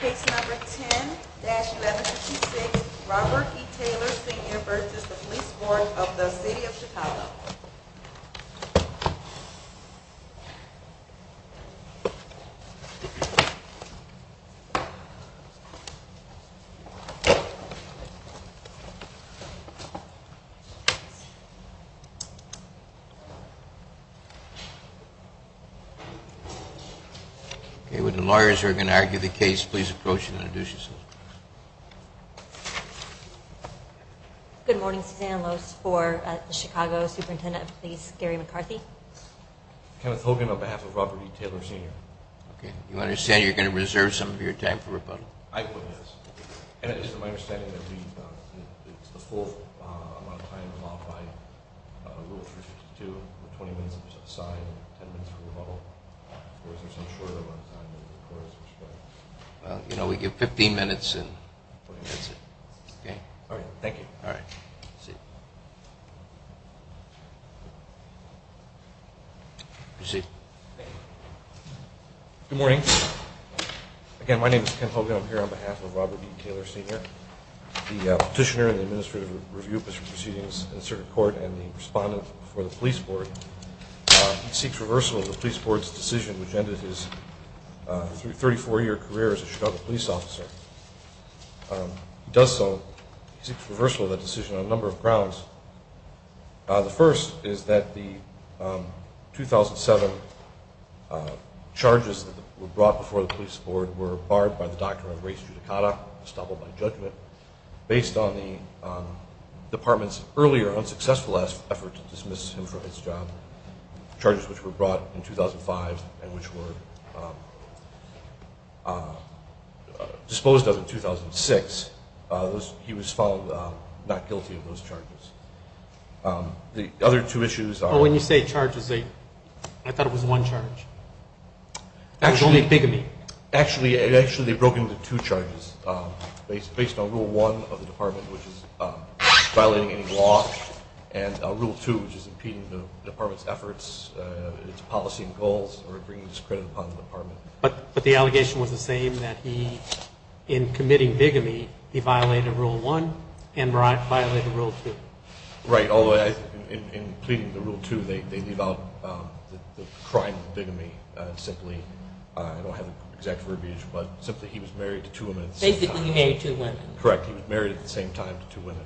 Case number 10-1156, Robert E. Taylor Sr. v. Police Board of the City of Chicago Okay, when the lawyers are going to argue the case, please approach and introduce yourselves. Good morning, Suzanne Loos for the Chicago Superintendent of Police Gary McCarthy. Kenneth Hogan on behalf of Robert E. Taylor Sr. Okay, you understand you're going to reserve some of your time for rebuttal? I believe so. And it is my understanding that the full amount of time is allowed by Rule 352. 20 minutes for a sign and 10 minutes for rebuttal. Or is there some shorter amount of time? Well, you know, we give 15 minutes and that's it. Okay. Thank you. All right. Proceed. Good morning. Again, my name is Ken Hogan. I'm here on behalf of Robert E. Taylor Sr. The petitioner in the administrative review proceedings in the circuit court and the respondent for the police board. He seeks reversal of the police board's decision which ended his 34-year career as a Chicago police officer. He does so, he seeks reversal of that decision on a number of grounds. The first is that the 2007 charges that were brought before the police board were barred by the doctrine of res judicata, based on the department's earlier unsuccessful effort to dismiss him from his job. Charges which were brought in 2005 and which were disposed of in 2006. He was found not guilty of those charges. The other two issues are- When you say charges, I thought it was one charge. Actually- It was only bigamy. Actually, they broke into two charges, based on Rule 1 of the department, which is violating any law, and Rule 2, which is impeding the department's efforts, its policy and goals, or bringing discredit upon the department. But the allegation was the same, that he, in committing bigamy, he violated Rule 1 and violated Rule 2. Right. In pleading the Rule 2, they leave out the crime of bigamy. Simply, I don't have the exact verbiage, but simply he was married to two women at the same time. Basically, he married two women. Correct. He was married at the same time to two women.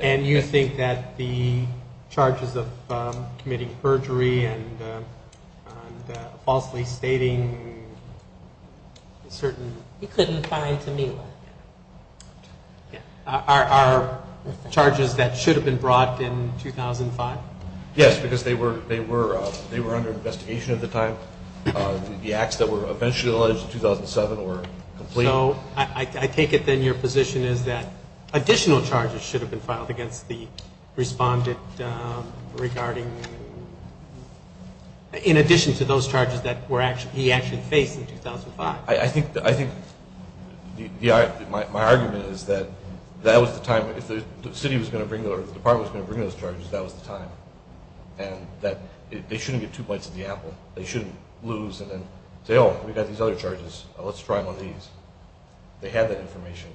And you think that the charges of committing perjury and falsely stating certain- He couldn't find Tamila. Are charges that should have been brought in 2005? Yes, because they were under investigation at the time. The acts that were eventually alleged in 2007 were complete. So I take it, then, your position is that additional charges should have been filed against the respondent regarding- in addition to those charges that he actually faced in 2005. I think my argument is that that was the time. If the city was going to bring- or the department was going to bring those charges, that was the time. And that they shouldn't get two bites of the apple. They shouldn't lose and then say, oh, we've got these other charges. Let's try them on these. They had that information.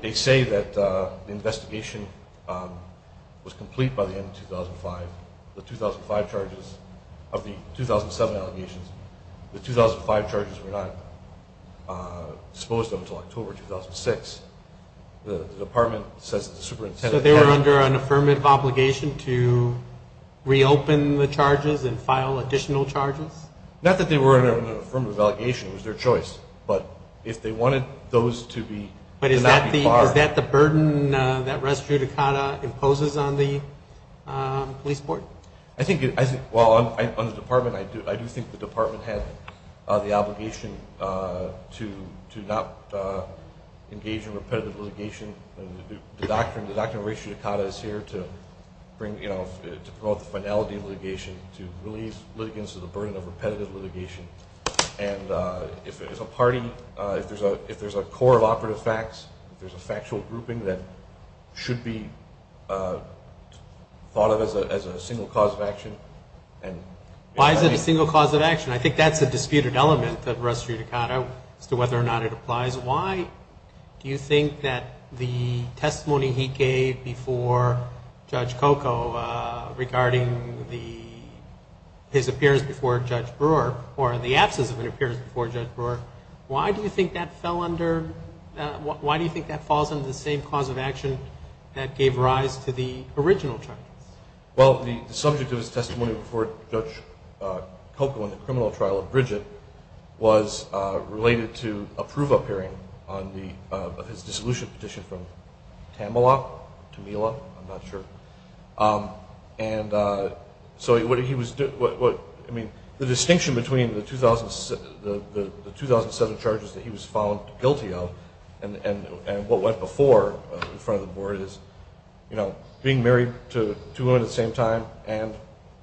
They say that the investigation was complete by the end of 2005. The 2005 charges of the 2007 allegations, the 2005 charges were not disposed of until October 2006. The department says that the superintendent- So they were under an affirmative obligation to reopen the charges and file additional charges? Not that they were under an affirmative obligation. It was their choice. But if they wanted those to be- But is that the burden that res judicata imposes on the police board? Well, on the department, I do think the department had the obligation to not engage in repetitive litigation. The doctrine of res judicata is here to promote the finality of litigation, to relieve litigants of the burden of repetitive litigation. And if there's a party, if there's a core of operative facts, if there's a factual grouping that should be thought of as a single cause of action- Why is it a single cause of action? I think that's a disputed element of res judicata as to whether or not it applies. Do you think that the testimony he gave before Judge Coco regarding his appearance before Judge Brewer, or the absence of an appearance before Judge Brewer, why do you think that falls under the same cause of action that gave rise to the original charges? Well, the subject of his testimony before Judge Coco in the criminal trial of Bridget was related to a prove-up hearing on his dissolution petition from Tamela, Tamela, I'm not sure. And so what he was- I mean, the distinction between the 2007 charges that he was found guilty of and what went before in front of the board is, you know, being married to two women at the same time and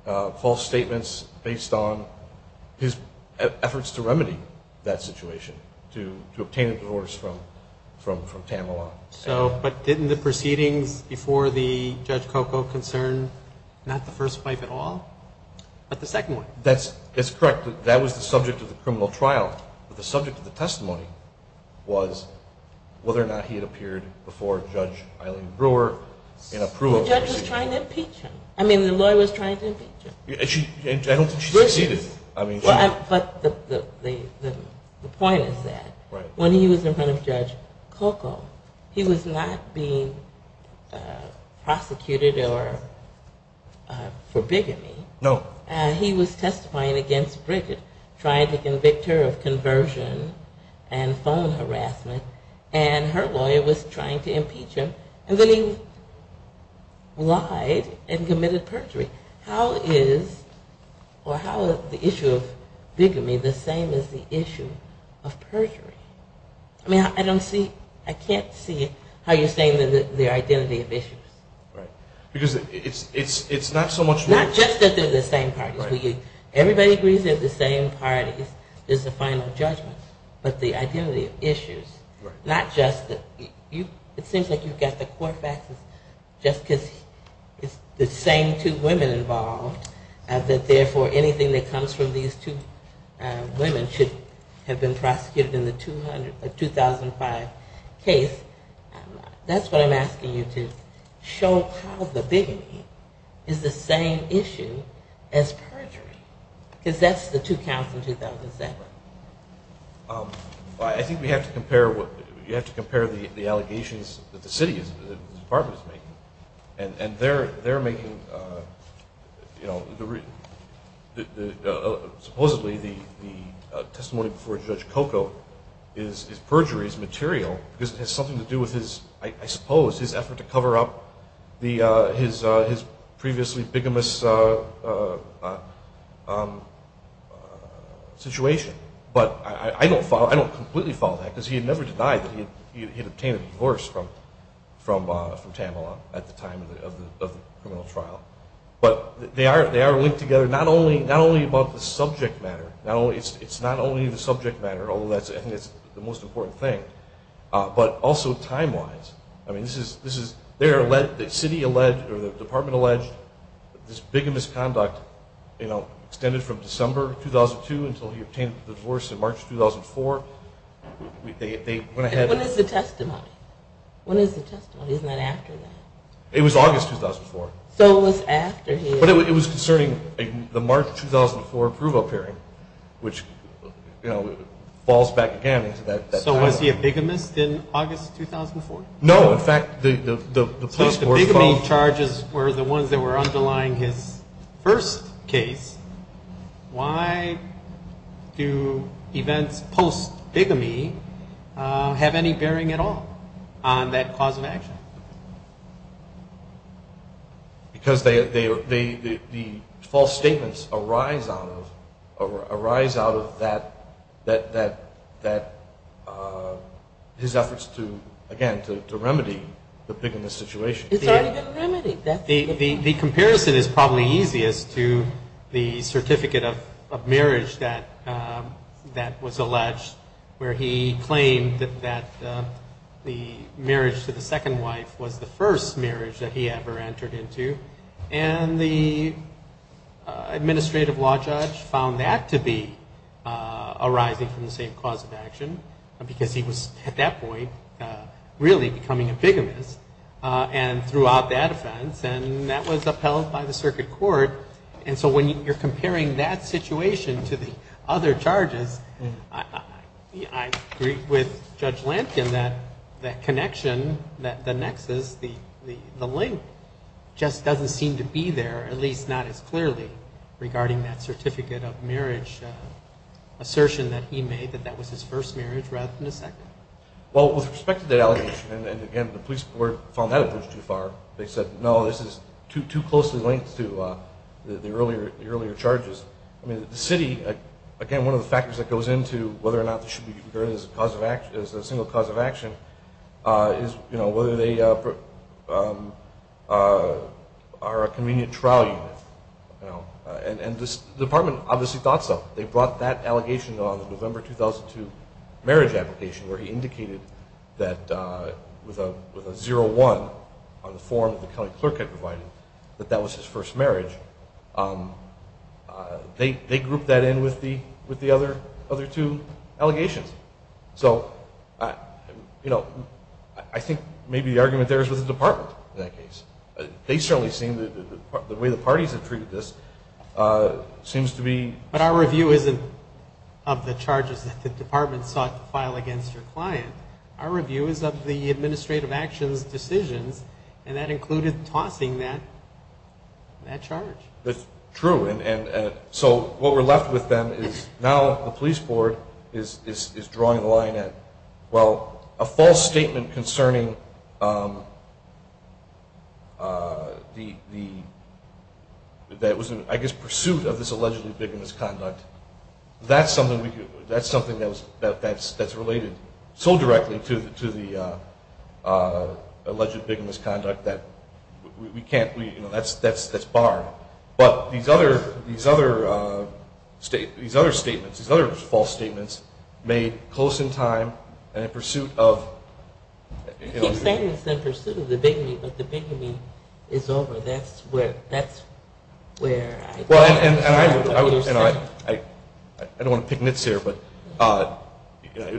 false statements based on his efforts to remedy that situation, to obtain a divorce from Tamela. But didn't the proceedings before the Judge Coco concern not the first wife at all, but the second one? That's correct. That was the subject of the criminal trial. But the subject of the testimony was whether or not he had appeared before Judge Eileen Brewer in a prove-up. The judge was trying to impeach him. I mean, the lawyer was trying to impeach him. I don't think she succeeded. But the point is that when he was in front of Judge Coco, he was not being prosecuted or for bigamy. No. He was testifying against Bridget, trying to convict her of conversion and phone harassment, and her lawyer was trying to impeach him, and then he lied and committed perjury. How is the issue of bigamy the same as the issue of perjury? I mean, I don't see- I can't see how you're saying the identity of issues. Right. Because it's not so much- Not just that they're the same parties. Everybody agrees they're the same parties. There's a final judgment, but the identity of issues, not just- It seems like you've got the Corfaxes just because it's the same two women involved, that therefore anything that comes from these two women should have been prosecuted in the 2005 case. That's what I'm asking you to show how the bigamy is the same issue as perjury, because that's the two counts in 2007. I think we have to compare the allegations that the city's department is making, and they're making- Supposedly the testimony before Judge Coco is perjury, is material, because it has something to do with, I suppose, his effort to cover up his previously bigamous situation. But I don't completely follow that, because he had never denied that he had obtained a divorce from Tamela at the time of the criminal trial. But they are linked together, not only about the subject matter. It's not only the subject matter, although I think that's the most important thing, but also time-wise. The city or the department alleged this bigamous conduct extended from December 2002 until he obtained the divorce in March 2004. When is the testimony? When is the testimony? Isn't that after that? It was August 2004. So it was after his- But it was concerning the March 2004 approval hearing, which falls back again into that- So was he a bigamist in August 2004? No, in fact- So if the bigamy charges were the ones that were underlying his first case, why do events post-bigamy have any bearing at all on that cause of action? Because the false statements arise out of his efforts to, again, to remedy the bigamist situation. It's already been remedied. The comparison is probably easiest to the certificate of marriage that was alleged, where he claimed that the marriage to the second wife was the first marriage that he ever entered into, and the administrative law judge found that to be arising from the same cause of action because he was, at that point, really becoming a bigamist and threw out that offense, and that was upheld by the circuit court. And so when you're comparing that situation to the other charges, I agree with Judge Lampkin that that connection, the nexus, the link, just doesn't seem to be there, at least not as clearly, regarding that certificate of marriage assertion that he made, that that was his first marriage rather than his second. Well, with respect to that allegation, and again, the police found that approach too far. They said, no, this is too closely linked to the earlier charges. I mean, the city, again, one of the factors that goes into whether or not this should be regarded as a single cause of action is whether they are a convenient trial unit. And the department obviously thought so. They brought that allegation on the November 2002 marriage application, where he indicated that with a 0-1 on the form that the county clerk had provided, that that was his first marriage. They grouped that in with the other two allegations. So, you know, I think maybe the argument there is with the department in that case. They certainly seem that the way the parties have treated this seems to be... But our review isn't of the charges that the department sought to file against your client. Our review is of the administrative actions decisions, and that included tossing that charge. That's true. And so what we're left with then is now the police board is drawing the line at, well, a false statement concerning the, I guess, pursuit of this allegedly bigamist conduct. That's something that's related so directly to the alleged bigamist conduct that we can't, you know, that's barred. But these other statements, these other false statements made close in time and in pursuit of, you know... He's saying it's in pursuit of the bigamy, but the bigamy is over. That's where I... Well, and I don't want to pick nits here, but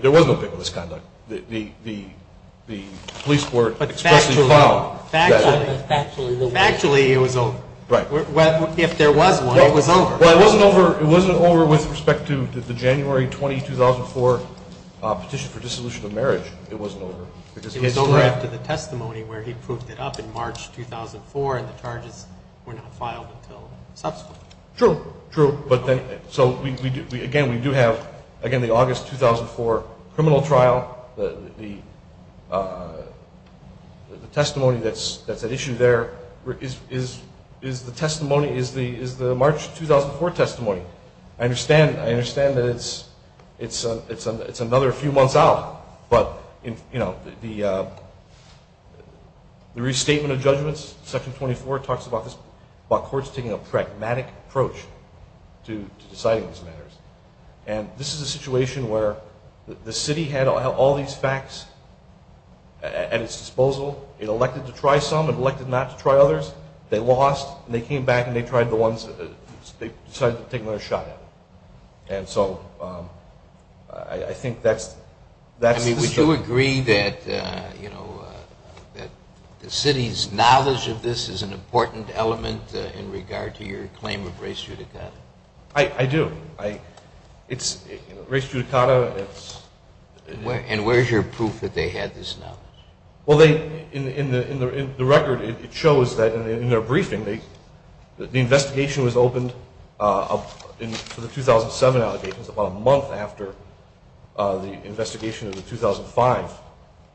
there was no bigamist conduct. The police board expressly found that... But factually, it was over. Right. If there was one, it was over. Well, it wasn't over with respect to the January 20, 2004 petition for dissolution of marriage. It wasn't over. It was over after the testimony where he proved it up in March 2004, and the charges were not filed until subsequently. True. True. So, again, we do have, again, the August 2004 criminal trial. The testimony that's at issue there is the testimony, is the March 2004 testimony. I understand that it's another few months out, but, you know, the restatement of judgments, Section 24 talks about this, about courts taking a pragmatic approach to deciding these matters. And this is a situation where the city had all these facts at its disposal. It elected to try some. It elected not to try others. They lost, and they came back, and they tried the ones that they decided to take their shot at. And so I think that's... I mean, would you agree that, you know, that the city's knowledge of this is an important element in regard to your claim of race judicata? I do. It's race judicata. And where's your proof that they had this knowledge? Well, in the record, it shows that in their briefing, the investigation was opened for the 2007 allegations about a month after the investigation of the 2005.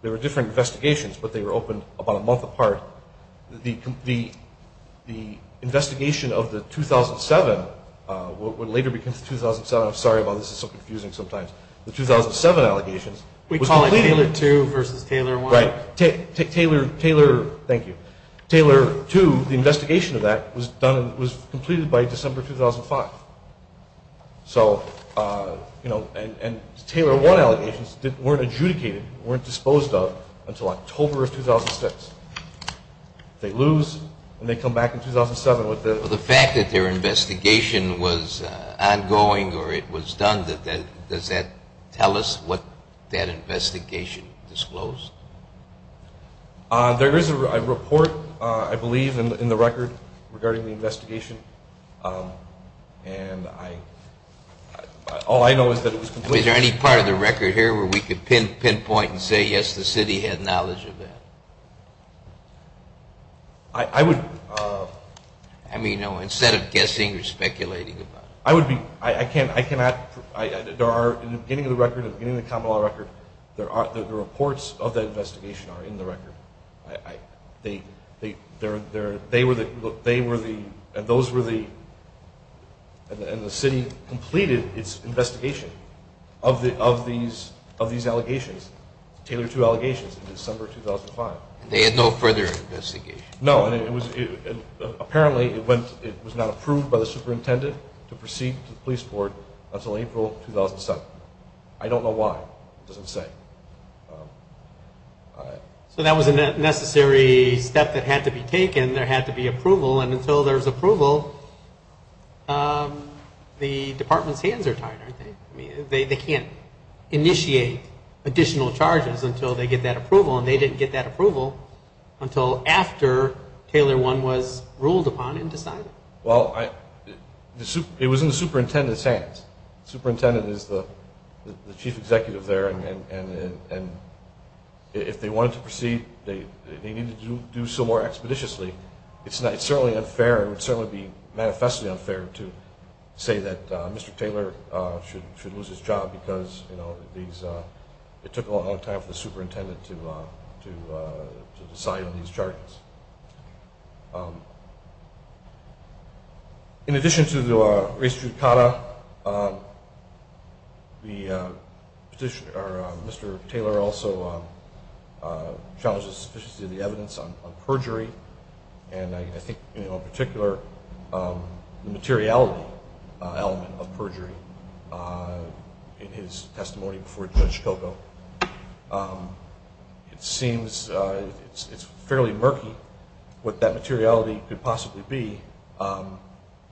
There were different investigations, but they were opened about a month apart. The investigation of the 2007, what later becomes 2007, I'm sorry about this, it's so confusing sometimes. The 2007 allegations... We call it Taylor 2 versus Taylor 1. Right. Taylor 2, the investigation of that, was completed by December 2005. So, you know, and Taylor 1 allegations weren't adjudicated, weren't disposed of until October of 2006. They lose, and they come back in 2007 with the... Well, the fact that their investigation was ongoing or it was done, does that tell us what that investigation disclosed? There is a report, I believe, in the record regarding the investigation, and all I know is that it was completed... Is there any part of the record here where we could pinpoint and say, yes, the city had knowledge of that? I would... I mean, you know, instead of guessing or speculating about it. I would be... I cannot... In the beginning of the record, in the beginning of the common law record, the reports of that investigation are in the record. They were the... And those were the... And the city completed its investigation of these allegations, Taylor 2 allegations, in December 2005. They had no further investigation. No, and apparently it was not approved by the superintendent to proceed to the police board until April 2007. I don't know why. It doesn't say. So that was a necessary step that had to be taken. There had to be approval, and until there's approval, the department's hands are tied, aren't they? I mean, they can't initiate additional charges until they get that approval, and they didn't get that approval until after Taylor 1 was ruled upon and decided. Well, it was in the superintendent's hands. The superintendent is the chief executive there, and if they wanted to proceed, they needed to do so more expeditiously. It's certainly unfair. It would certainly be manifestly unfair to say that Mr. Taylor should lose his job because it took a long time for the superintendent to decide on these charges. In addition to the race judicata, Mr. Taylor also challenges the sufficiency of the evidence on perjury, and I think in particular the materiality element of perjury in his testimony before Judge Coco. It seems it's fairly murky what that materiality could possibly be.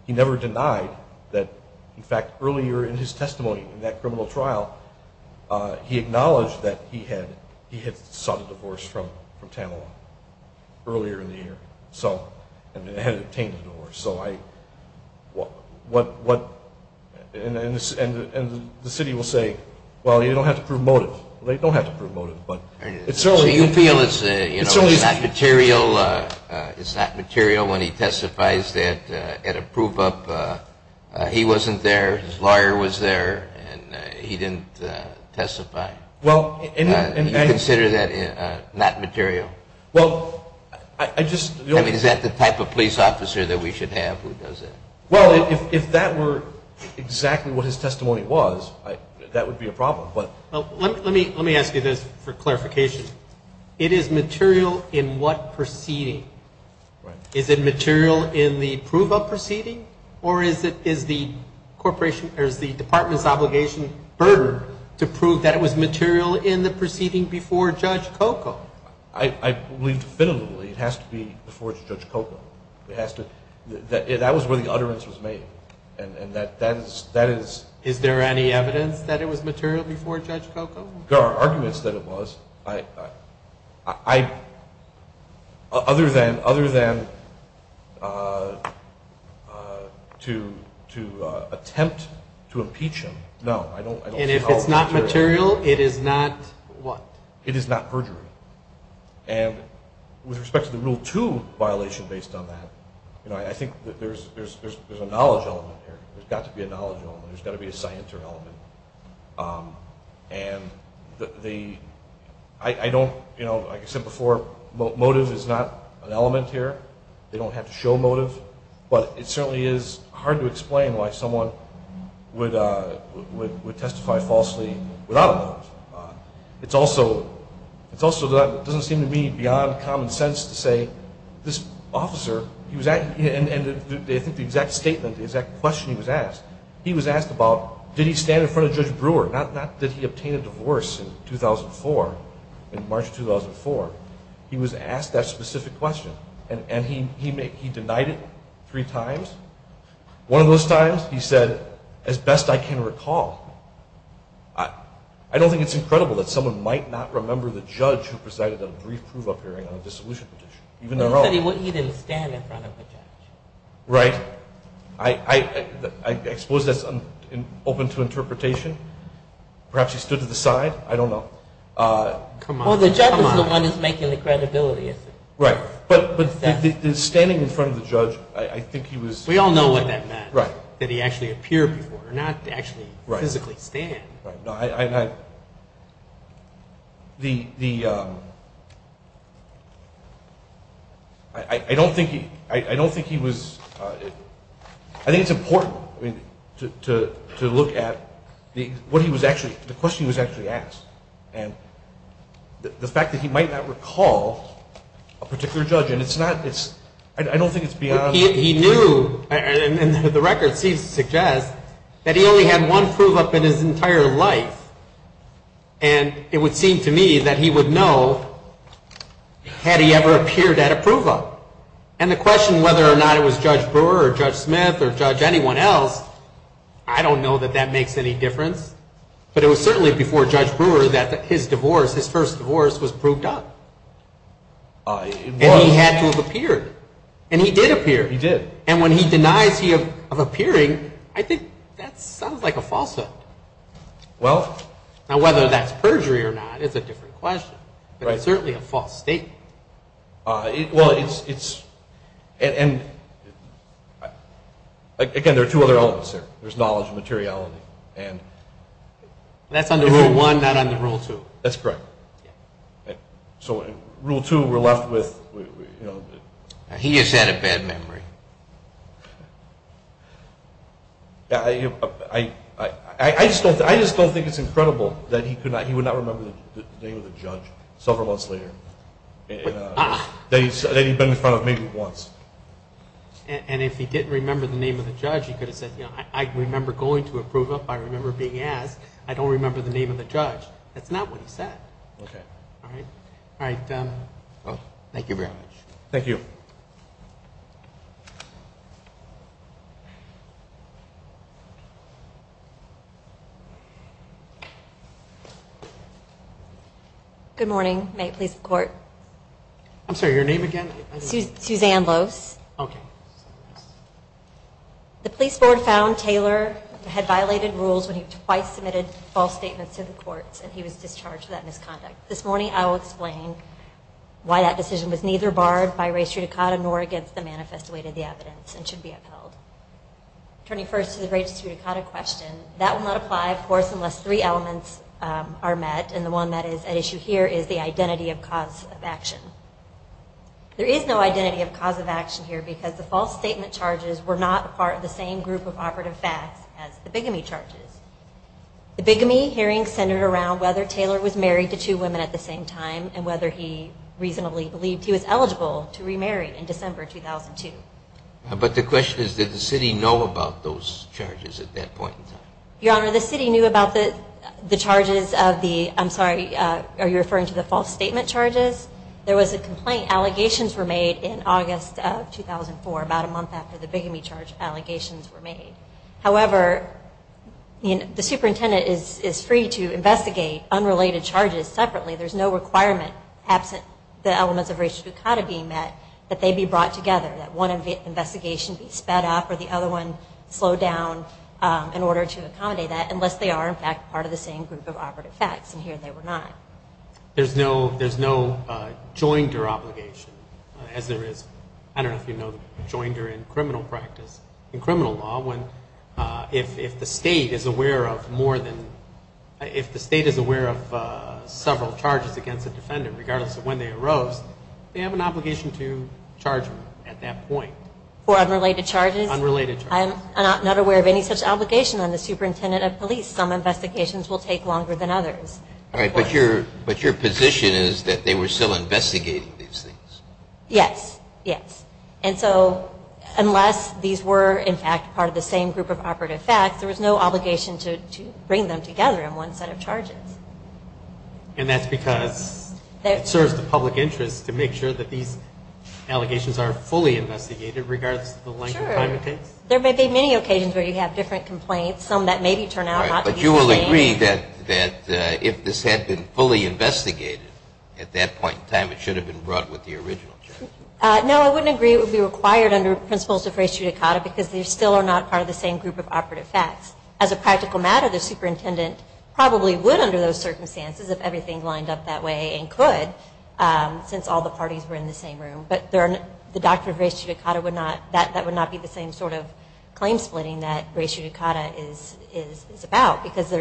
He never denied that, in fact, earlier in his testimony in that criminal trial, he acknowledged that he had sought a divorce from Tamela earlier in the year and had obtained a divorce. And the city will say, well, you don't have to promote it. They don't have to promote it. So you feel it's not material when he testifies that at a prove-up he wasn't there, his lawyer was there, and he didn't testify? Do you consider that not material? I mean, is that the type of police officer that we should have? Well, if that were exactly what his testimony was, that would be a problem. Let me ask you this for clarification. It is material in what proceeding? Is it material in the prove-up proceeding, or is the department's obligation burdened to prove that it was material in the proceeding before Judge Coco? I believe definitively it has to be before Judge Coco. That was where the utterance was made. Is there any evidence that it was material before Judge Coco? There are arguments that it was. Other than to attempt to impeach him, no. And if it's not material, it is not what? It is not perjury. And with respect to the Rule 2 violation based on that, I think there's a knowledge element here. There's got to be a knowledge element. There's got to be a scienter element. And I don't, you know, like I said before, motive is not an element here. They don't have to show motive. But it certainly is hard to explain why someone would testify falsely without a motive. It also doesn't seem to me beyond common sense to say this officer, and I think the exact statement, the exact question he was asked, he was asked about did he stand in front of Judge Brewer? Not that he obtained a divorce in 2004, in March 2004. He was asked that specific question, and he denied it three times. One of those times he said, as best I can recall. I don't think it's incredible that someone might not remember the judge who presided at a brief prove-up hearing on a dissolution petition. He said he didn't stand in front of the judge. Right. I suppose that's open to interpretation. Perhaps he stood to the side. I don't know. Well, the judge is the one who's making the credibility, isn't he? Right. But standing in front of the judge, I think he was. We all know what that meant. Right. That he actually appeared before, not actually physically stand. Right. I don't think he was. I think it's important to look at what he was actually, the question he was actually asked, and the fact that he might not recall a particular judge, and it's not. I don't think it's beyond. He knew, and the records suggest, that he only had one prove-up in his entire life, and it would seem to me that he would know had he ever appeared at a prove-up. And the question whether or not it was Judge Brewer or Judge Smith or Judge anyone else, I don't know that that makes any difference. But it was certainly before Judge Brewer that his divorce, his first divorce, was proved up. And he had to have appeared. And he did appear. He did. And when he denies he of appearing, I think that sounds like a false statement. Well. Now, whether that's perjury or not is a different question. Right. But it's certainly a false statement. Well, it's, and, again, there are two other elements there. There's knowledge and materiality. That's under Rule 1, not under Rule 2. That's correct. So Rule 2, we're left with, you know. He has had a bad memory. I just don't think it's incredible that he could not, he would not remember the name of the judge several months later. That he'd been in front of maybe once. And if he didn't remember the name of the judge, he could have said, you know, I remember going to a prove-up, I remember being asked, I don't remember the name of the judge. That's not what he said. Okay. All right. Thank you very much. Thank you. Good morning. May it please the Court. I'm sorry, your name again? Suzanne Lose. Okay. The police board found Taylor had violated rules when he twice submitted false statements to the courts, and he was discharged for that misconduct. This morning I will explain why that decision was neither barred by race judicata nor against the manifest way to the evidence and should be upheld. Turning first to the race judicata question, that will not apply, of course, unless three elements are met, and the one that is at issue here is the identity of cause of action. There is no identity of cause of action here because the false statement charges were not part of the same group of operative facts as the bigamy charges. The bigamy hearing centered around whether Taylor was married to two women at the same time and whether he reasonably believed he was eligible to remarry in December 2002. But the question is, did the city know about those charges at that point in time? Your Honor, the city knew about the charges of the, I'm sorry, are you referring to the false statement charges? There was a complaint. Allegations were made in August of 2004, about a month after the bigamy charge allegations were made. However, the superintendent is free to investigate unrelated charges separately. There's no requirement, absent the elements of race judicata being met, that they be brought together. That one investigation be sped up or the other one slowed down in order to accommodate that, unless they are, in fact, part of the same group of operative facts, and here they were not. There's no joinder obligation, as there is, I don't know if you know, joinder in criminal practice. In criminal law, if the state is aware of more than, if the state is aware of several charges against a defendant, regardless of when they arose, they have an obligation to charge them at that point. For unrelated charges? Unrelated charges. I'm not aware of any such obligation on the superintendent of police. Some investigations will take longer than others. All right, but your position is that they were still investigating these things? Yes, yes. And so, unless these were, in fact, part of the same group of operative facts, there was no obligation to bring them together in one set of charges. And that's because it serves the public interest to make sure that these allegations are fully investigated, regardless of the length of time it takes? Sure. There may be many occasions where you have different complaints, some that maybe turn out not to be the same. But you will agree that if this had been fully investigated at that point in time, it should have been brought with the original charge? No, I wouldn't agree it would be required under principles of res judicata because they still are not part of the same group of operative facts. As a practical matter, the superintendent probably would, under those circumstances, if everything lined up that way and could, since all the parties were in the same room. But the doctrine of res judicata would not be the same sort of claim splitting that res judicata is about, because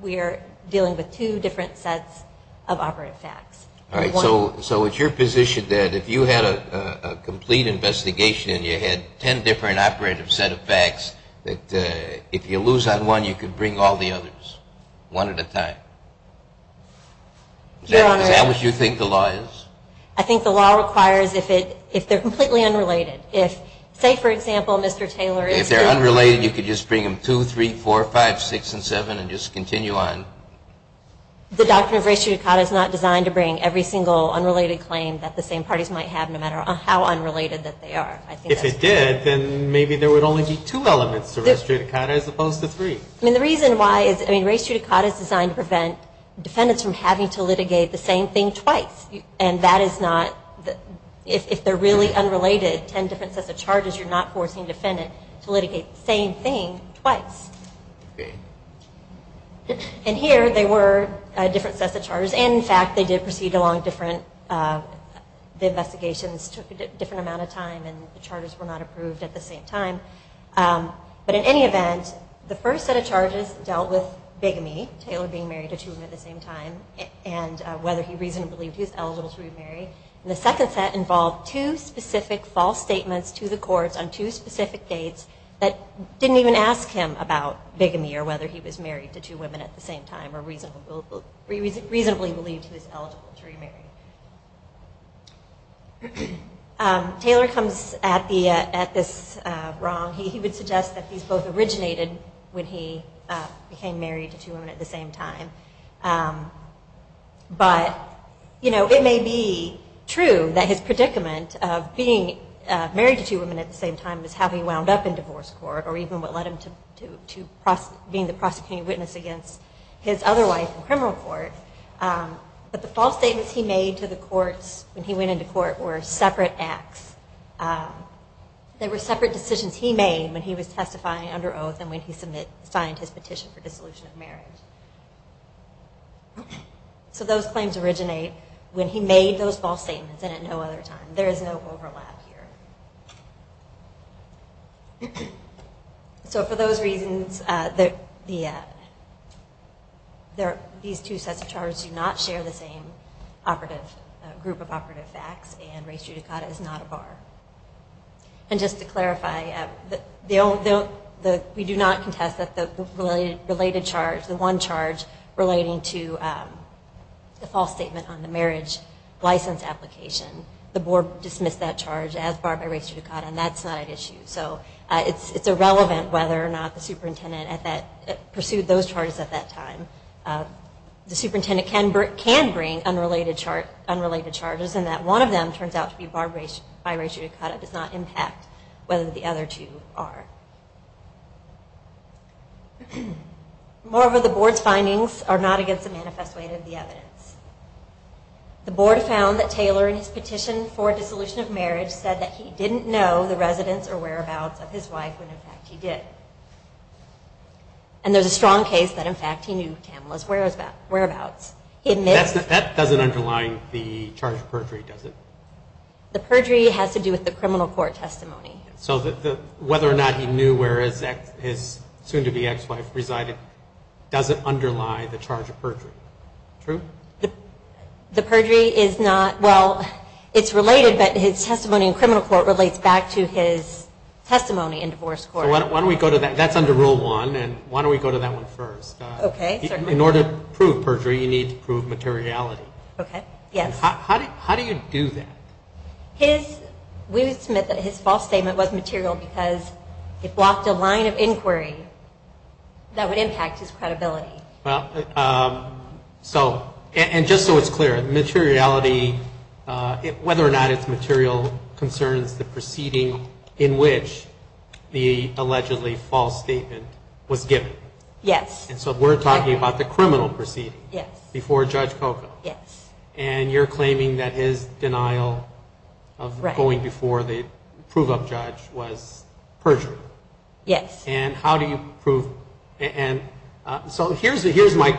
we are dealing with two different sets of operative facts. All right. So it's your position that if you had a complete investigation and you had 10 different operative set of facts, that if you lose on one, you could bring all the others, one at a time? Your Honor. Is that what you think the law is? I think the law requires if they're completely unrelated. If, say, for example, Mr. Taylor is here. If they're unrelated, you could just bring them 2, 3, 4, 5, 6, and 7 and just continue on. The doctrine of res judicata is not designed to bring every single unrelated claim that the same parties might have, no matter how unrelated that they are. If it did, then maybe there would only be two elements to res judicata as opposed to three. The reason why is res judicata is designed to prevent defendants from having to litigate the same thing twice. And that is not, if they're really unrelated, 10 different sets of charges, you're not forcing a defendant to litigate the same thing twice. Okay. And here, they were different sets of charges. And, in fact, they did proceed along different... The investigations took a different amount of time and the charges were not approved at the same time. But in any event, the first set of charges dealt with bigamy, Taylor being married to two women at the same time, and whether he reasonably believed he was eligible to be married. And the second set involved two specific false statements to the courts on two specific dates that didn't even ask him about bigamy or whether he was married to two women at the same time or reasonably believed he was eligible to remarry. Taylor comes at this wrong. He would suggest that these both originated when he became married to two women at the same time. But, you know, it may be true that his predicament of being married to two women at the same time was how he wound up in divorce court or even what led him to being the prosecuting witness against his other wife in criminal court. But the false statements he made to the courts when he went into court were separate acts. They were separate decisions he made when he was testifying under oath and when he signed his petition for dissolution of marriage. So those claims originate when he made those false statements and at no other time. There is no overlap here. So for those reasons, these two sets of charges do not share the same group of operative facts and race judicata is not a bar. And just to clarify, we do not contest that the related charge, the one charge relating to the false statement on the marriage license application, the board dismissed that charge as barred by race judicata and that's not at issue. So it's irrelevant whether or not the superintendent pursued those charges at that time. The superintendent can bring unrelated charges and that one of them turns out to be barred by race judicata does not impact whether the other two are. Moreover, the board's findings are not against the manifest way of the evidence. The board found that Taylor in his petition for dissolution of marriage said that he didn't know the residence or whereabouts of his wife when in fact he did. And there's a strong case that in fact he knew Tamela's whereabouts. That doesn't underline the charge of perjury, does it? The perjury has to do with the criminal court testimony. So whether or not he knew where his soon-to-be ex-wife resided doesn't underlie the charge of perjury. True? The perjury is not, well, it's related but his testimony in criminal court relates back to his testimony in divorce court. So why don't we go to that? That's under Rule 1. Why don't we go to that one first? In order to prove perjury, you need to prove materiality. Okay, yes. How do you do that? We would submit that his false statement was material because it blocked a line of inquiry that would impact his credibility. And just so it's clear, materiality, whether or not it's material concerns the proceeding in which the allegedly false statement was given. Yes. And so we're talking about the criminal proceeding before Judge Coco. Yes. And you're claiming that his denial of going before the prove-up judge was perjury. Yes. And how do you prove... So here's my...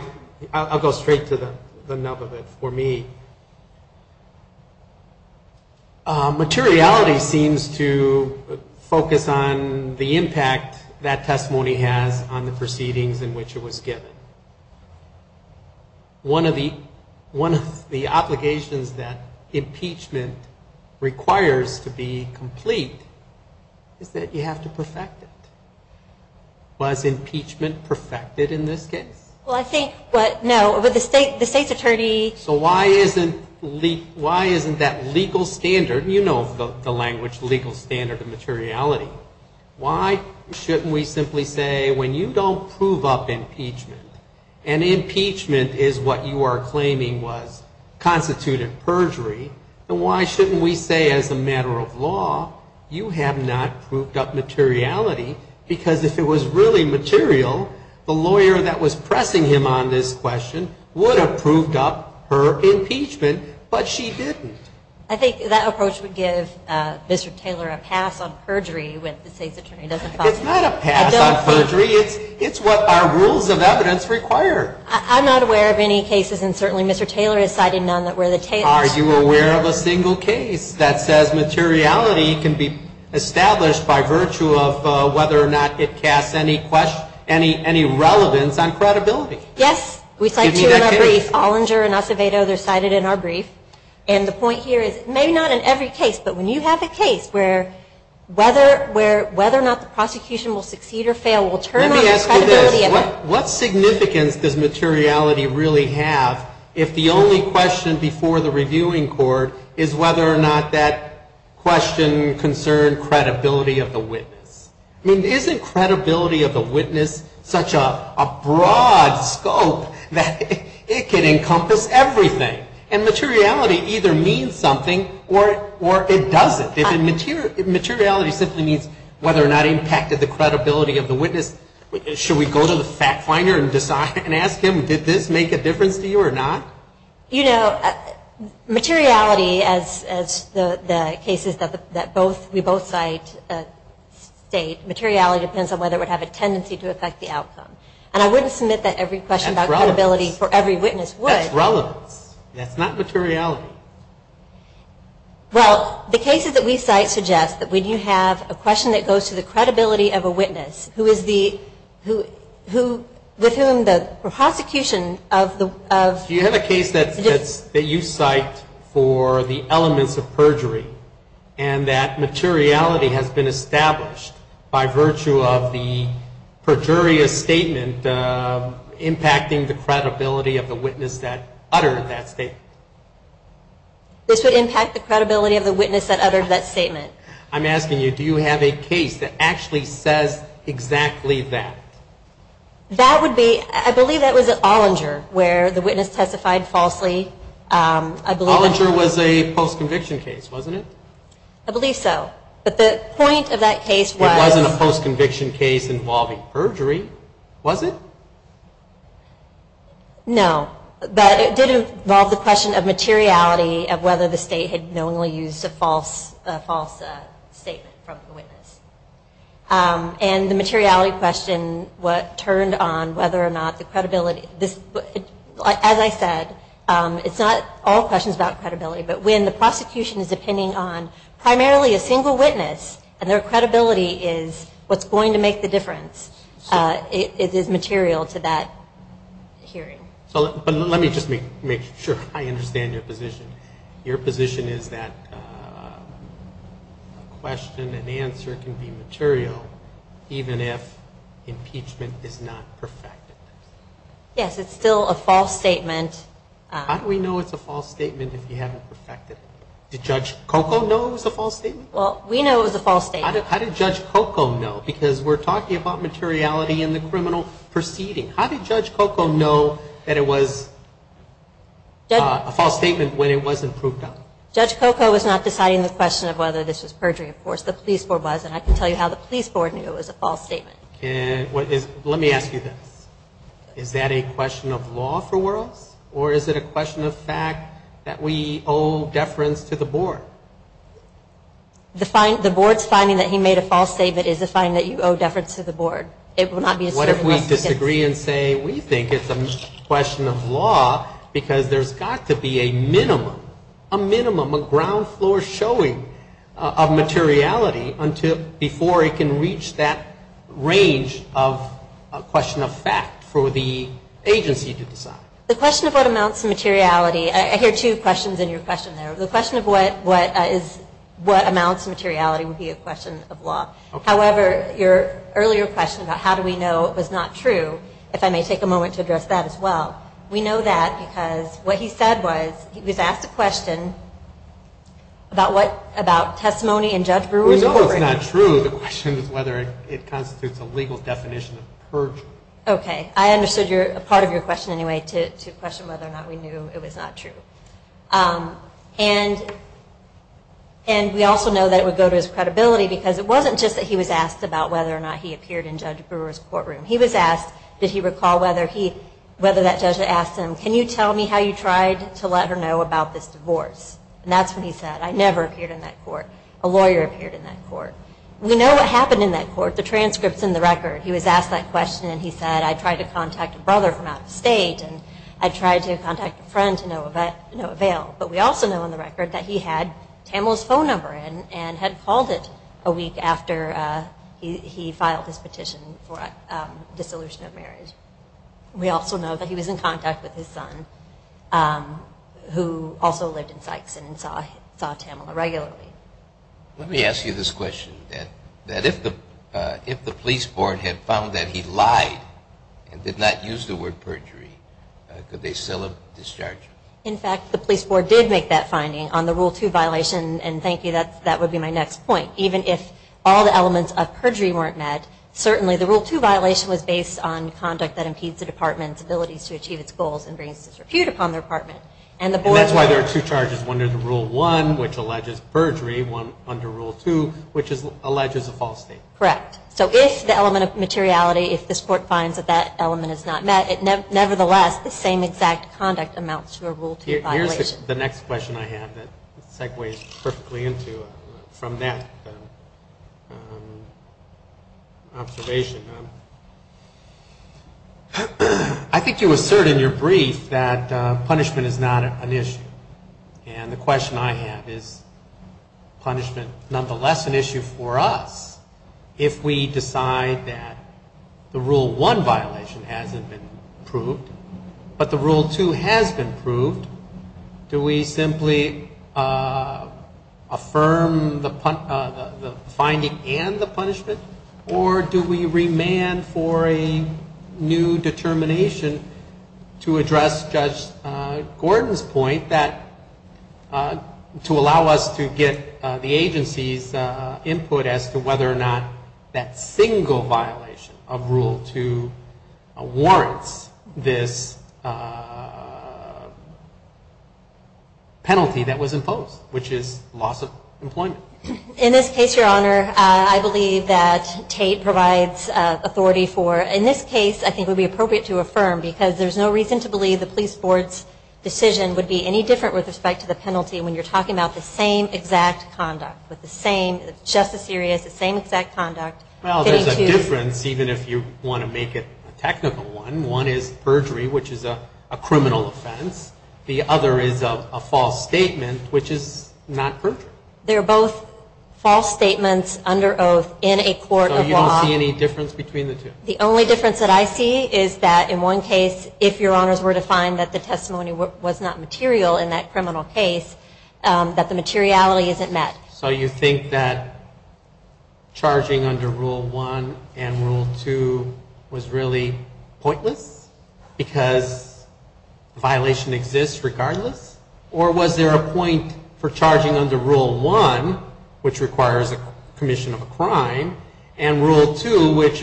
I'll go straight to the nub of it for me. Materiality seems to focus on the impact that testimony has on the proceedings in which it was given. One of the obligations that impeachment requires to be complete is that you have to perfect it. Was impeachment perfected in this case? Well, I think... No, but the state's attorney... So why isn't that legal standard... You know the language, legal standard of materiality. Why shouldn't we simply say, when you don't prove up impeachment, and impeachment is what you are claiming was constituted perjury, then why shouldn't we say, as a matter of law, you have not proved up materiality? Because if it was really material, the lawyer that was pressing him on this question would have proved up her impeachment, but she didn't. I think that approach would give Mr. Taylor a pass on perjury when the state's attorney doesn't... It's not a pass on perjury. It's what our rules of evidence require. I'm not aware of any cases, and certainly Mr. Taylor has cited none that where the... Are you aware of a single case that says materiality can be established by virtue of whether or not it casts any relevance on credibility? Yes. We cite two in our brief. Olinger and Acevedo, they're cited in our brief. And the point here is, maybe not in every case, but when you have a case where whether or not the prosecution will succeed or fail will turn on the credibility of it. Let me ask you this. What significance does materiality really have if the only question before the reviewing court is whether or not that question concerned credibility of the witness? I mean, isn't credibility of the witness such a broad scope that it can encompass everything? And materiality either means something or it doesn't. Materiality simply means whether or not it impacted the credibility of the witness. Should we go to the fact finder and ask him, did this make a difference to you or not? You know, materiality, as the cases that we both cite state, materiality depends on whether it would have a tendency to affect the outcome. And I wouldn't submit that every question about credibility for every witness would. That's relevance. That's not materiality. Well, the cases that we cite suggest that when you have a question that goes to the credibility of a witness, who is the, with whom the prosecution of the... Do you have a case that you cite for the elements of perjury and that materiality has been established by virtue of the perjurious statement impacting the credibility of the witness that uttered that statement? This would impact the credibility of the witness that uttered that statement. I'm asking you, do you have a case that actually says exactly that? That would be, I believe that was at Olinger where the witness testified falsely. Olinger was a post-conviction case, wasn't it? I believe so. But the point of that case was... It wasn't a post-conviction case involving perjury, was it? No. But it did involve the question of materiality of whether the state had knowingly used a false statement from the witness. And the materiality question turned on whether or not the credibility... As I said, it's not all questions about credibility, but when the prosecution is depending on primarily a single witness and their credibility is what's going to make the difference, it is material to that hearing. But let me just make sure I understand your position. Your position is that a question, an answer can be material even if impeachment is not perfected. Yes, it's still a false statement. How do we know it's a false statement if you haven't perfected it? Did Judge Coco know it was a false statement? Well, we know it was a false statement. How did Judge Coco know? Because we're talking about materiality in the criminal proceeding. How did Judge Coco know that it was a false statement when it wasn't proved out? Judge Coco was not deciding the question of whether this was perjury. Of course, the police board was, and I can tell you how the police board knew it was a false statement. Let me ask you this. Is that a question of law for worlds, or is it a question of fact that we owe deference to the board? The board's finding that he made a false statement is a finding that you owe deference to the board. What if we disagree and say we think it's a question of law because there's got to be a minimum, a minimum, a ground floor showing of materiality before it can reach that range of question of fact for the agency to decide? The question of what amounts to materiality, I hear two questions in your question there. The question of what amounts to materiality would be a question of law. However, your earlier question about how do we know it was not true, if I may take a moment to address that as well, we know that because what he said was, he was asked a question about testimony and Judge Brewer. We know it's not true. The question is whether it constitutes a legal definition of perjury. Okay. I understood part of your question anyway, to question whether or not we knew it was not true. And we also know that it would go to his credibility because it wasn't just that he was asked about whether or not he appeared in Judge Brewer's courtroom. He was asked, did he recall whether that judge asked him, can you tell me how you tried to let her know about this divorce? And that's what he said. I never appeared in that court. A lawyer appeared in that court. We know what happened in that court. The transcript's in the record. He was asked that question and he said, I tried to contact a brother from out of state and I tried to contact a friend to no avail. But we also know in the record that he had Tamela's phone number in and had called it a week after he filed his petition for dissolution of marriage. We also know that he was in contact with his son who also lived in Sykes and saw Tamela regularly. Let me ask you this question, that if the police board had found that he lied and did not use the word perjury, could they still discharge him? In fact, the police board did make that finding on the Rule 2 violation and thank you, that would be my next point. Even if all the elements of perjury weren't met, certainly the Rule 2 violation was based on conduct that impedes the department's ability to achieve its goals and brings disrepute upon the department. And that's why there are two charges, one under Rule 1, which alleges perjury, one under Rule 2, which alleges a false state. Correct. So if the element of materiality, if this court finds that that element is not met, nevertheless, the same exact conduct amounts to a Rule 2 violation. Here's the next question I have that segues perfectly into from that observation. I think you assert in your brief that punishment is not an issue. And the question I have is punishment nonetheless an issue for us if we decide that the Rule 1 violation hasn't been proved, but the Rule 2 has been proved, do we simply affirm the finding and the punishment or do we remand for a new determination to address Judge Gordon's point that to allow us to get the agency's input as to whether or not that single violation of Rule 2 warrants this penalty that was imposed, which is loss of employment? In this case, Your Honor, I believe that Tate provides authority for, in this case I think it would be appropriate to affirm because there's no reason to believe the police board's decision would be any different with respect to the penalty when you're talking about the same exact conduct with the same, just as serious, the same exact conduct. Well, there's a difference even if you want to make it a technical one. One is perjury, which is a criminal offense. The other is a false statement, which is not perjury. They're both false statements under oath in a court of law. So you don't see any difference between the two? The only difference that I see is that in one case, if Your Honors were to find that the testimony was not material in that criminal case, that the materiality isn't met. So you think that charging under Rule 1 and Rule 2 was really pointless because the violation exists regardless? Or was there a point for charging under Rule 1, which requires a commission of a crime, and Rule 2, which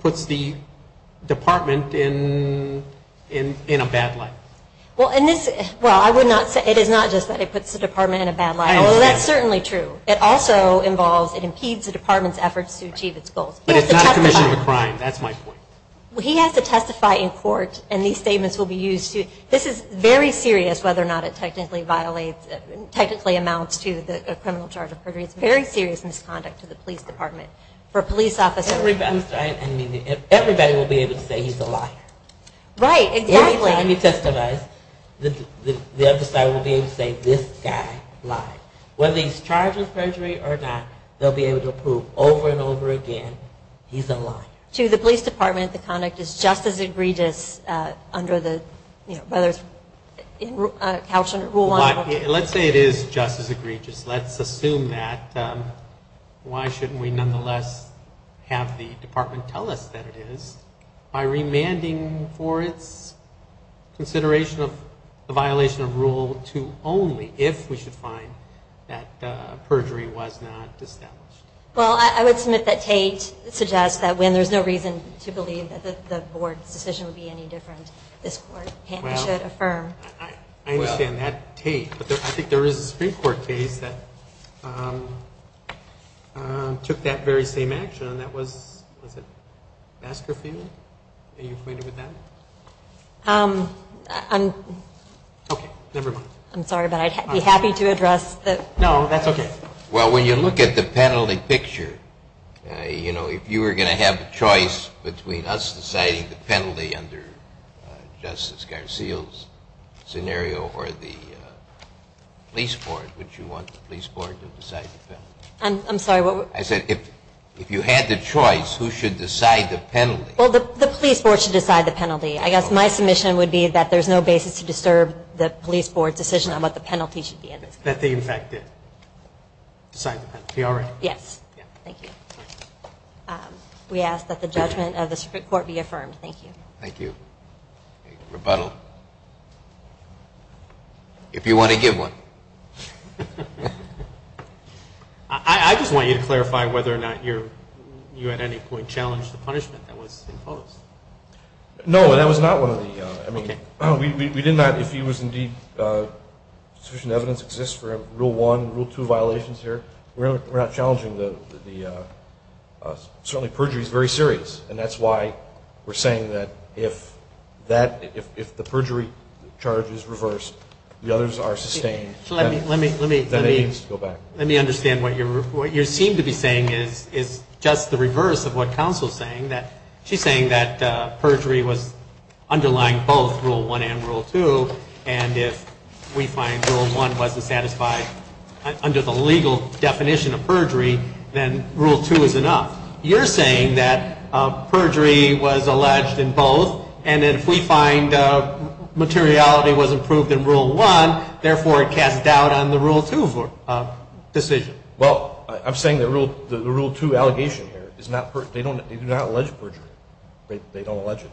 puts the department in a bad light? Well, it is not just that it puts the department in a bad light. That's certainly true. It also impedes the department's efforts to achieve its goals. But it's not a commission of a crime. That's my point. He has to testify in court, and these statements will be used. This is very serious whether or not it technically amounts to a criminal charge of perjury. It's very serious misconduct to the police department for a police officer. Everybody will be able to say he's a liar. Right, exactly. Every time he testifies, the other side will be able to say, this guy lied. Whether he's charged with perjury or not, they'll be able to prove over and over again he's a liar. To the police department, the conduct is just as egregious under the, you know, whether it's couched under Rule 1 or Rule 2. Let's say it is just as egregious. Let's assume that. Why shouldn't we nonetheless have the department tell us that it is by remanding for its consideration of the violation of Rule 2 only if we should find that perjury was not established? Well, I would submit that Tate suggests that when there's no reason to believe that the board's decision would be any different, this court can and should affirm. I understand that, Tate. But I think there is a Supreme Court case that took that very same action, and that was, was it Masterfield? Are you acquainted with that? Okay, never mind. I'm sorry, but I'd be happy to address that. No, that's okay. Well, when you look at the penalty picture, you know, if you were going to have a choice between us deciding the penalty under Justice Garcia's scenario or the police board, would you want the police board to decide the penalty? I'm sorry, what? I said if you had the choice, who should decide the penalty? Well, the police board should decide the penalty. I guess my submission would be that there's no basis to disturb the police board's decision on what the penalty should be. That they, in fact, decide the penalty. Yes. Thank you. We ask that the judgment of the Supreme Court be affirmed. Thank you. Thank you. Rebuttal. If you want to give one. I just want you to clarify whether or not you at any point challenged the punishment that was imposed. No, that was not one of the, I mean, we did not, if he was indeed, sufficient evidence exists for rule one, rule two violations here, we're not challenging the, certainly perjury is very serious. And that's why we're saying that if that, if the perjury charge is reversed, the others are sustained. Let me, let me, let me, let me understand what you're, what you seem to be saying is, is just the reverse of what counsel's saying that she's saying that perjury was underlying both rule one and rule two. And if we find rule one wasn't satisfied under the legal definition of perjury, then rule two is enough. You're saying that perjury was alleged in both, and if we find materiality was improved in rule one, therefore it casts doubt on the rule two decision. Well, I'm saying the rule, the rule two allegation here is not, they do not allege perjury. They don't allege it.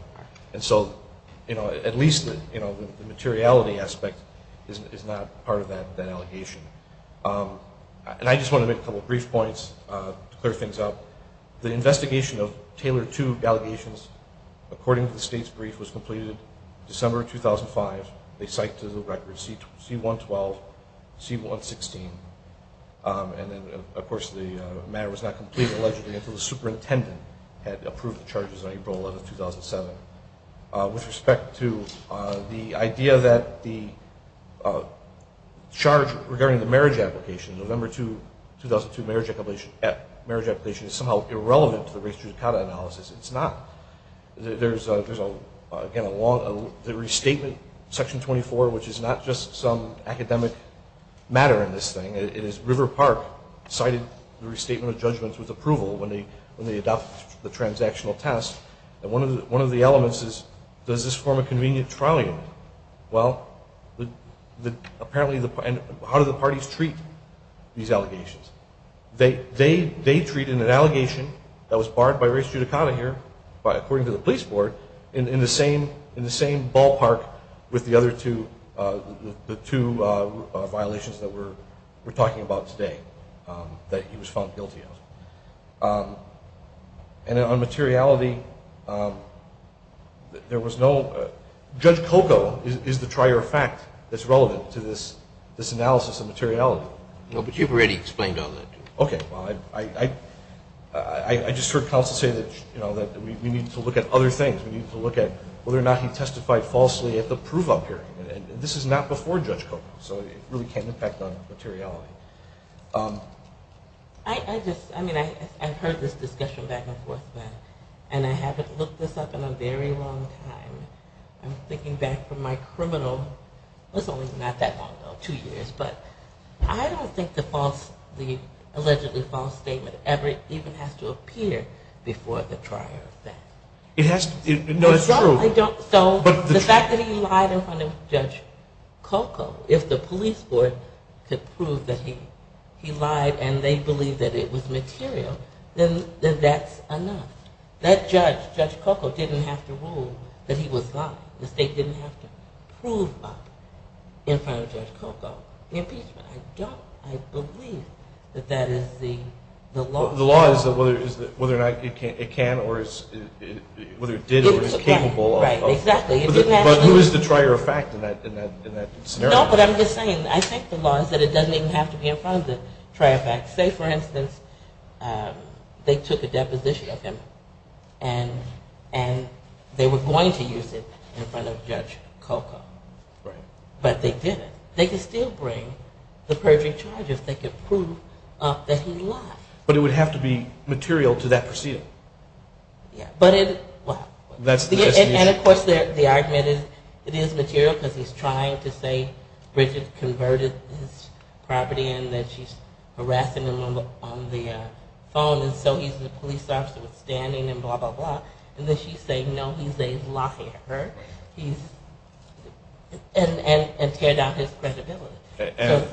And so, you know, at least, you know, the materiality aspect is not part of that, that allegation. And I just want to make a couple brief points to clear things up. The investigation of Taylor two allegations, according to the state's brief, was completed December 2005. They cite to the record C112, C116, and then, of course, the matter was not completed allegedly until the superintendent had approved the charges on April 11, 2007. With respect to the idea that the charge regarding the marriage application, November 2, 2002, marriage application is somehow irrelevant to the race judicata analysis. It's not. There's, again, a long restatement, Section 24, which is not just some academic matter in this thing. It is River Park cited the restatement of judgments with approval when they adopt the transactional test. And one of the elements is, does this form a convenient trial unit? Well, apparently, how do the parties treat these allegations? They treat an allegation that was barred by race judicata here, according to the police board, in the same ballpark with the other two violations that we're talking about today that he was found guilty of. And on materiality, there was no – Judge Coco is the trier of fact that's relevant to this analysis of materiality. No, but you've already explained all that. Okay. Well, I just heard counsel say that we need to look at other things. We need to look at whether or not he testified falsely at the proof-up hearing. And this is not before Judge Coco, so it really can impact on materiality. I just – I mean, I've heard this discussion back and forth, and I haven't looked this up in a very long time. I'm thinking back from my criminal – well, it's only not that long, though, two years. But I don't think the allegedly false statement ever even has to appear before the trier of fact. It has to – no, it's true. So the fact that he lied in front of Judge Coco, if the police board could prove that he lied and they believed that it was material, then that's enough. That judge, Judge Coco, didn't have to rule that he was lying. The state didn't have to prove lying in front of Judge Coco. The impeachment, I don't – I believe that that is the law. The law is whether or not it can or is – whether it did or is capable of – Right, exactly. But who is the trier of fact in that scenario? No, but I'm just saying, I think the law is that it doesn't even have to be in front of the trier of fact. Say, for instance, they took a deposition of him and they were going to use it in front of Judge Coco. Right. But they didn't. They could still bring the perjury charges. They could prove that he lied. But it would have to be material to that proceeding. Yeah, but it – well. That's the – And, of course, the argument is it is material because he's trying to say Bridget converted his property and that she's harassing him on the phone. And so he's a police officer with standing and blah, blah, blah. And then she's saying, no, he's a liar. He's – and teared out his credibility. And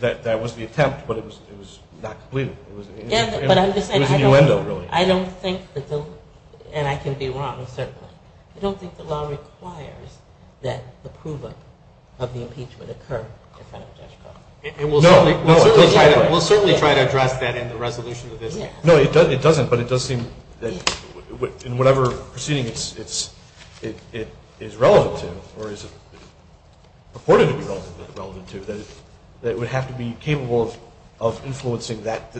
that was the attempt, but it was not complete. It was innuendo, really. I don't think that the – and I can be wrong, certainly. I don't think the law requires that approval of the impeachment occur in front of Judge Coco. No. We'll certainly try to address that in the resolution of this. No, it doesn't, but it does seem that in whatever proceeding it is relevant to or is purported to be relevant to, that it would have to be capable of influencing that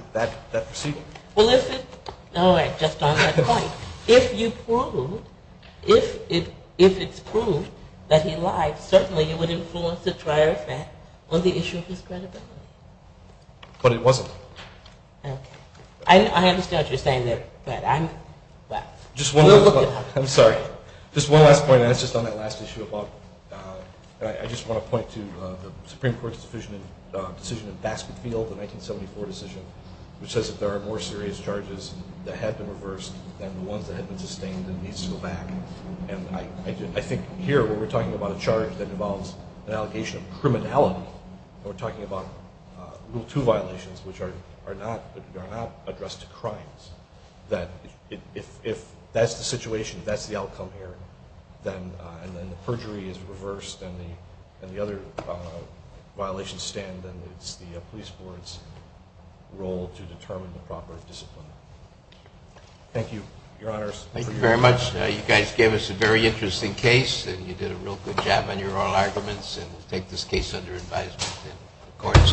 proceeding. Well, if it – all right, just on that point. If you prove – if it's proved that he lied, certainly it would influence the trial effect on the issue of his credibility. But it wasn't. Okay. I understand what you're saying there, but I'm – well. Just one last point. I'm sorry. Just one last point, and it's just on that last issue about – I just want to point to the Supreme Court's decision in Baskerville, the 1974 decision, which says that there are more serious charges that had been reversed than the ones that had been sustained and needs to go back. And I think here, when we're talking about a charge that involves an allegation of criminality, we're talking about Rule 2 violations, which are not addressed to crimes, that if that's the situation, if that's the outcome here, and then the perjury is reversed and the other violations stand, then it's the police board's role to determine the proper discipline. Thank you, Your Honors. Thank you very much. You guys gave us a very interesting case, and you did a real good job on your oral arguments, and we'll take this case under advisement and the court is adjourned.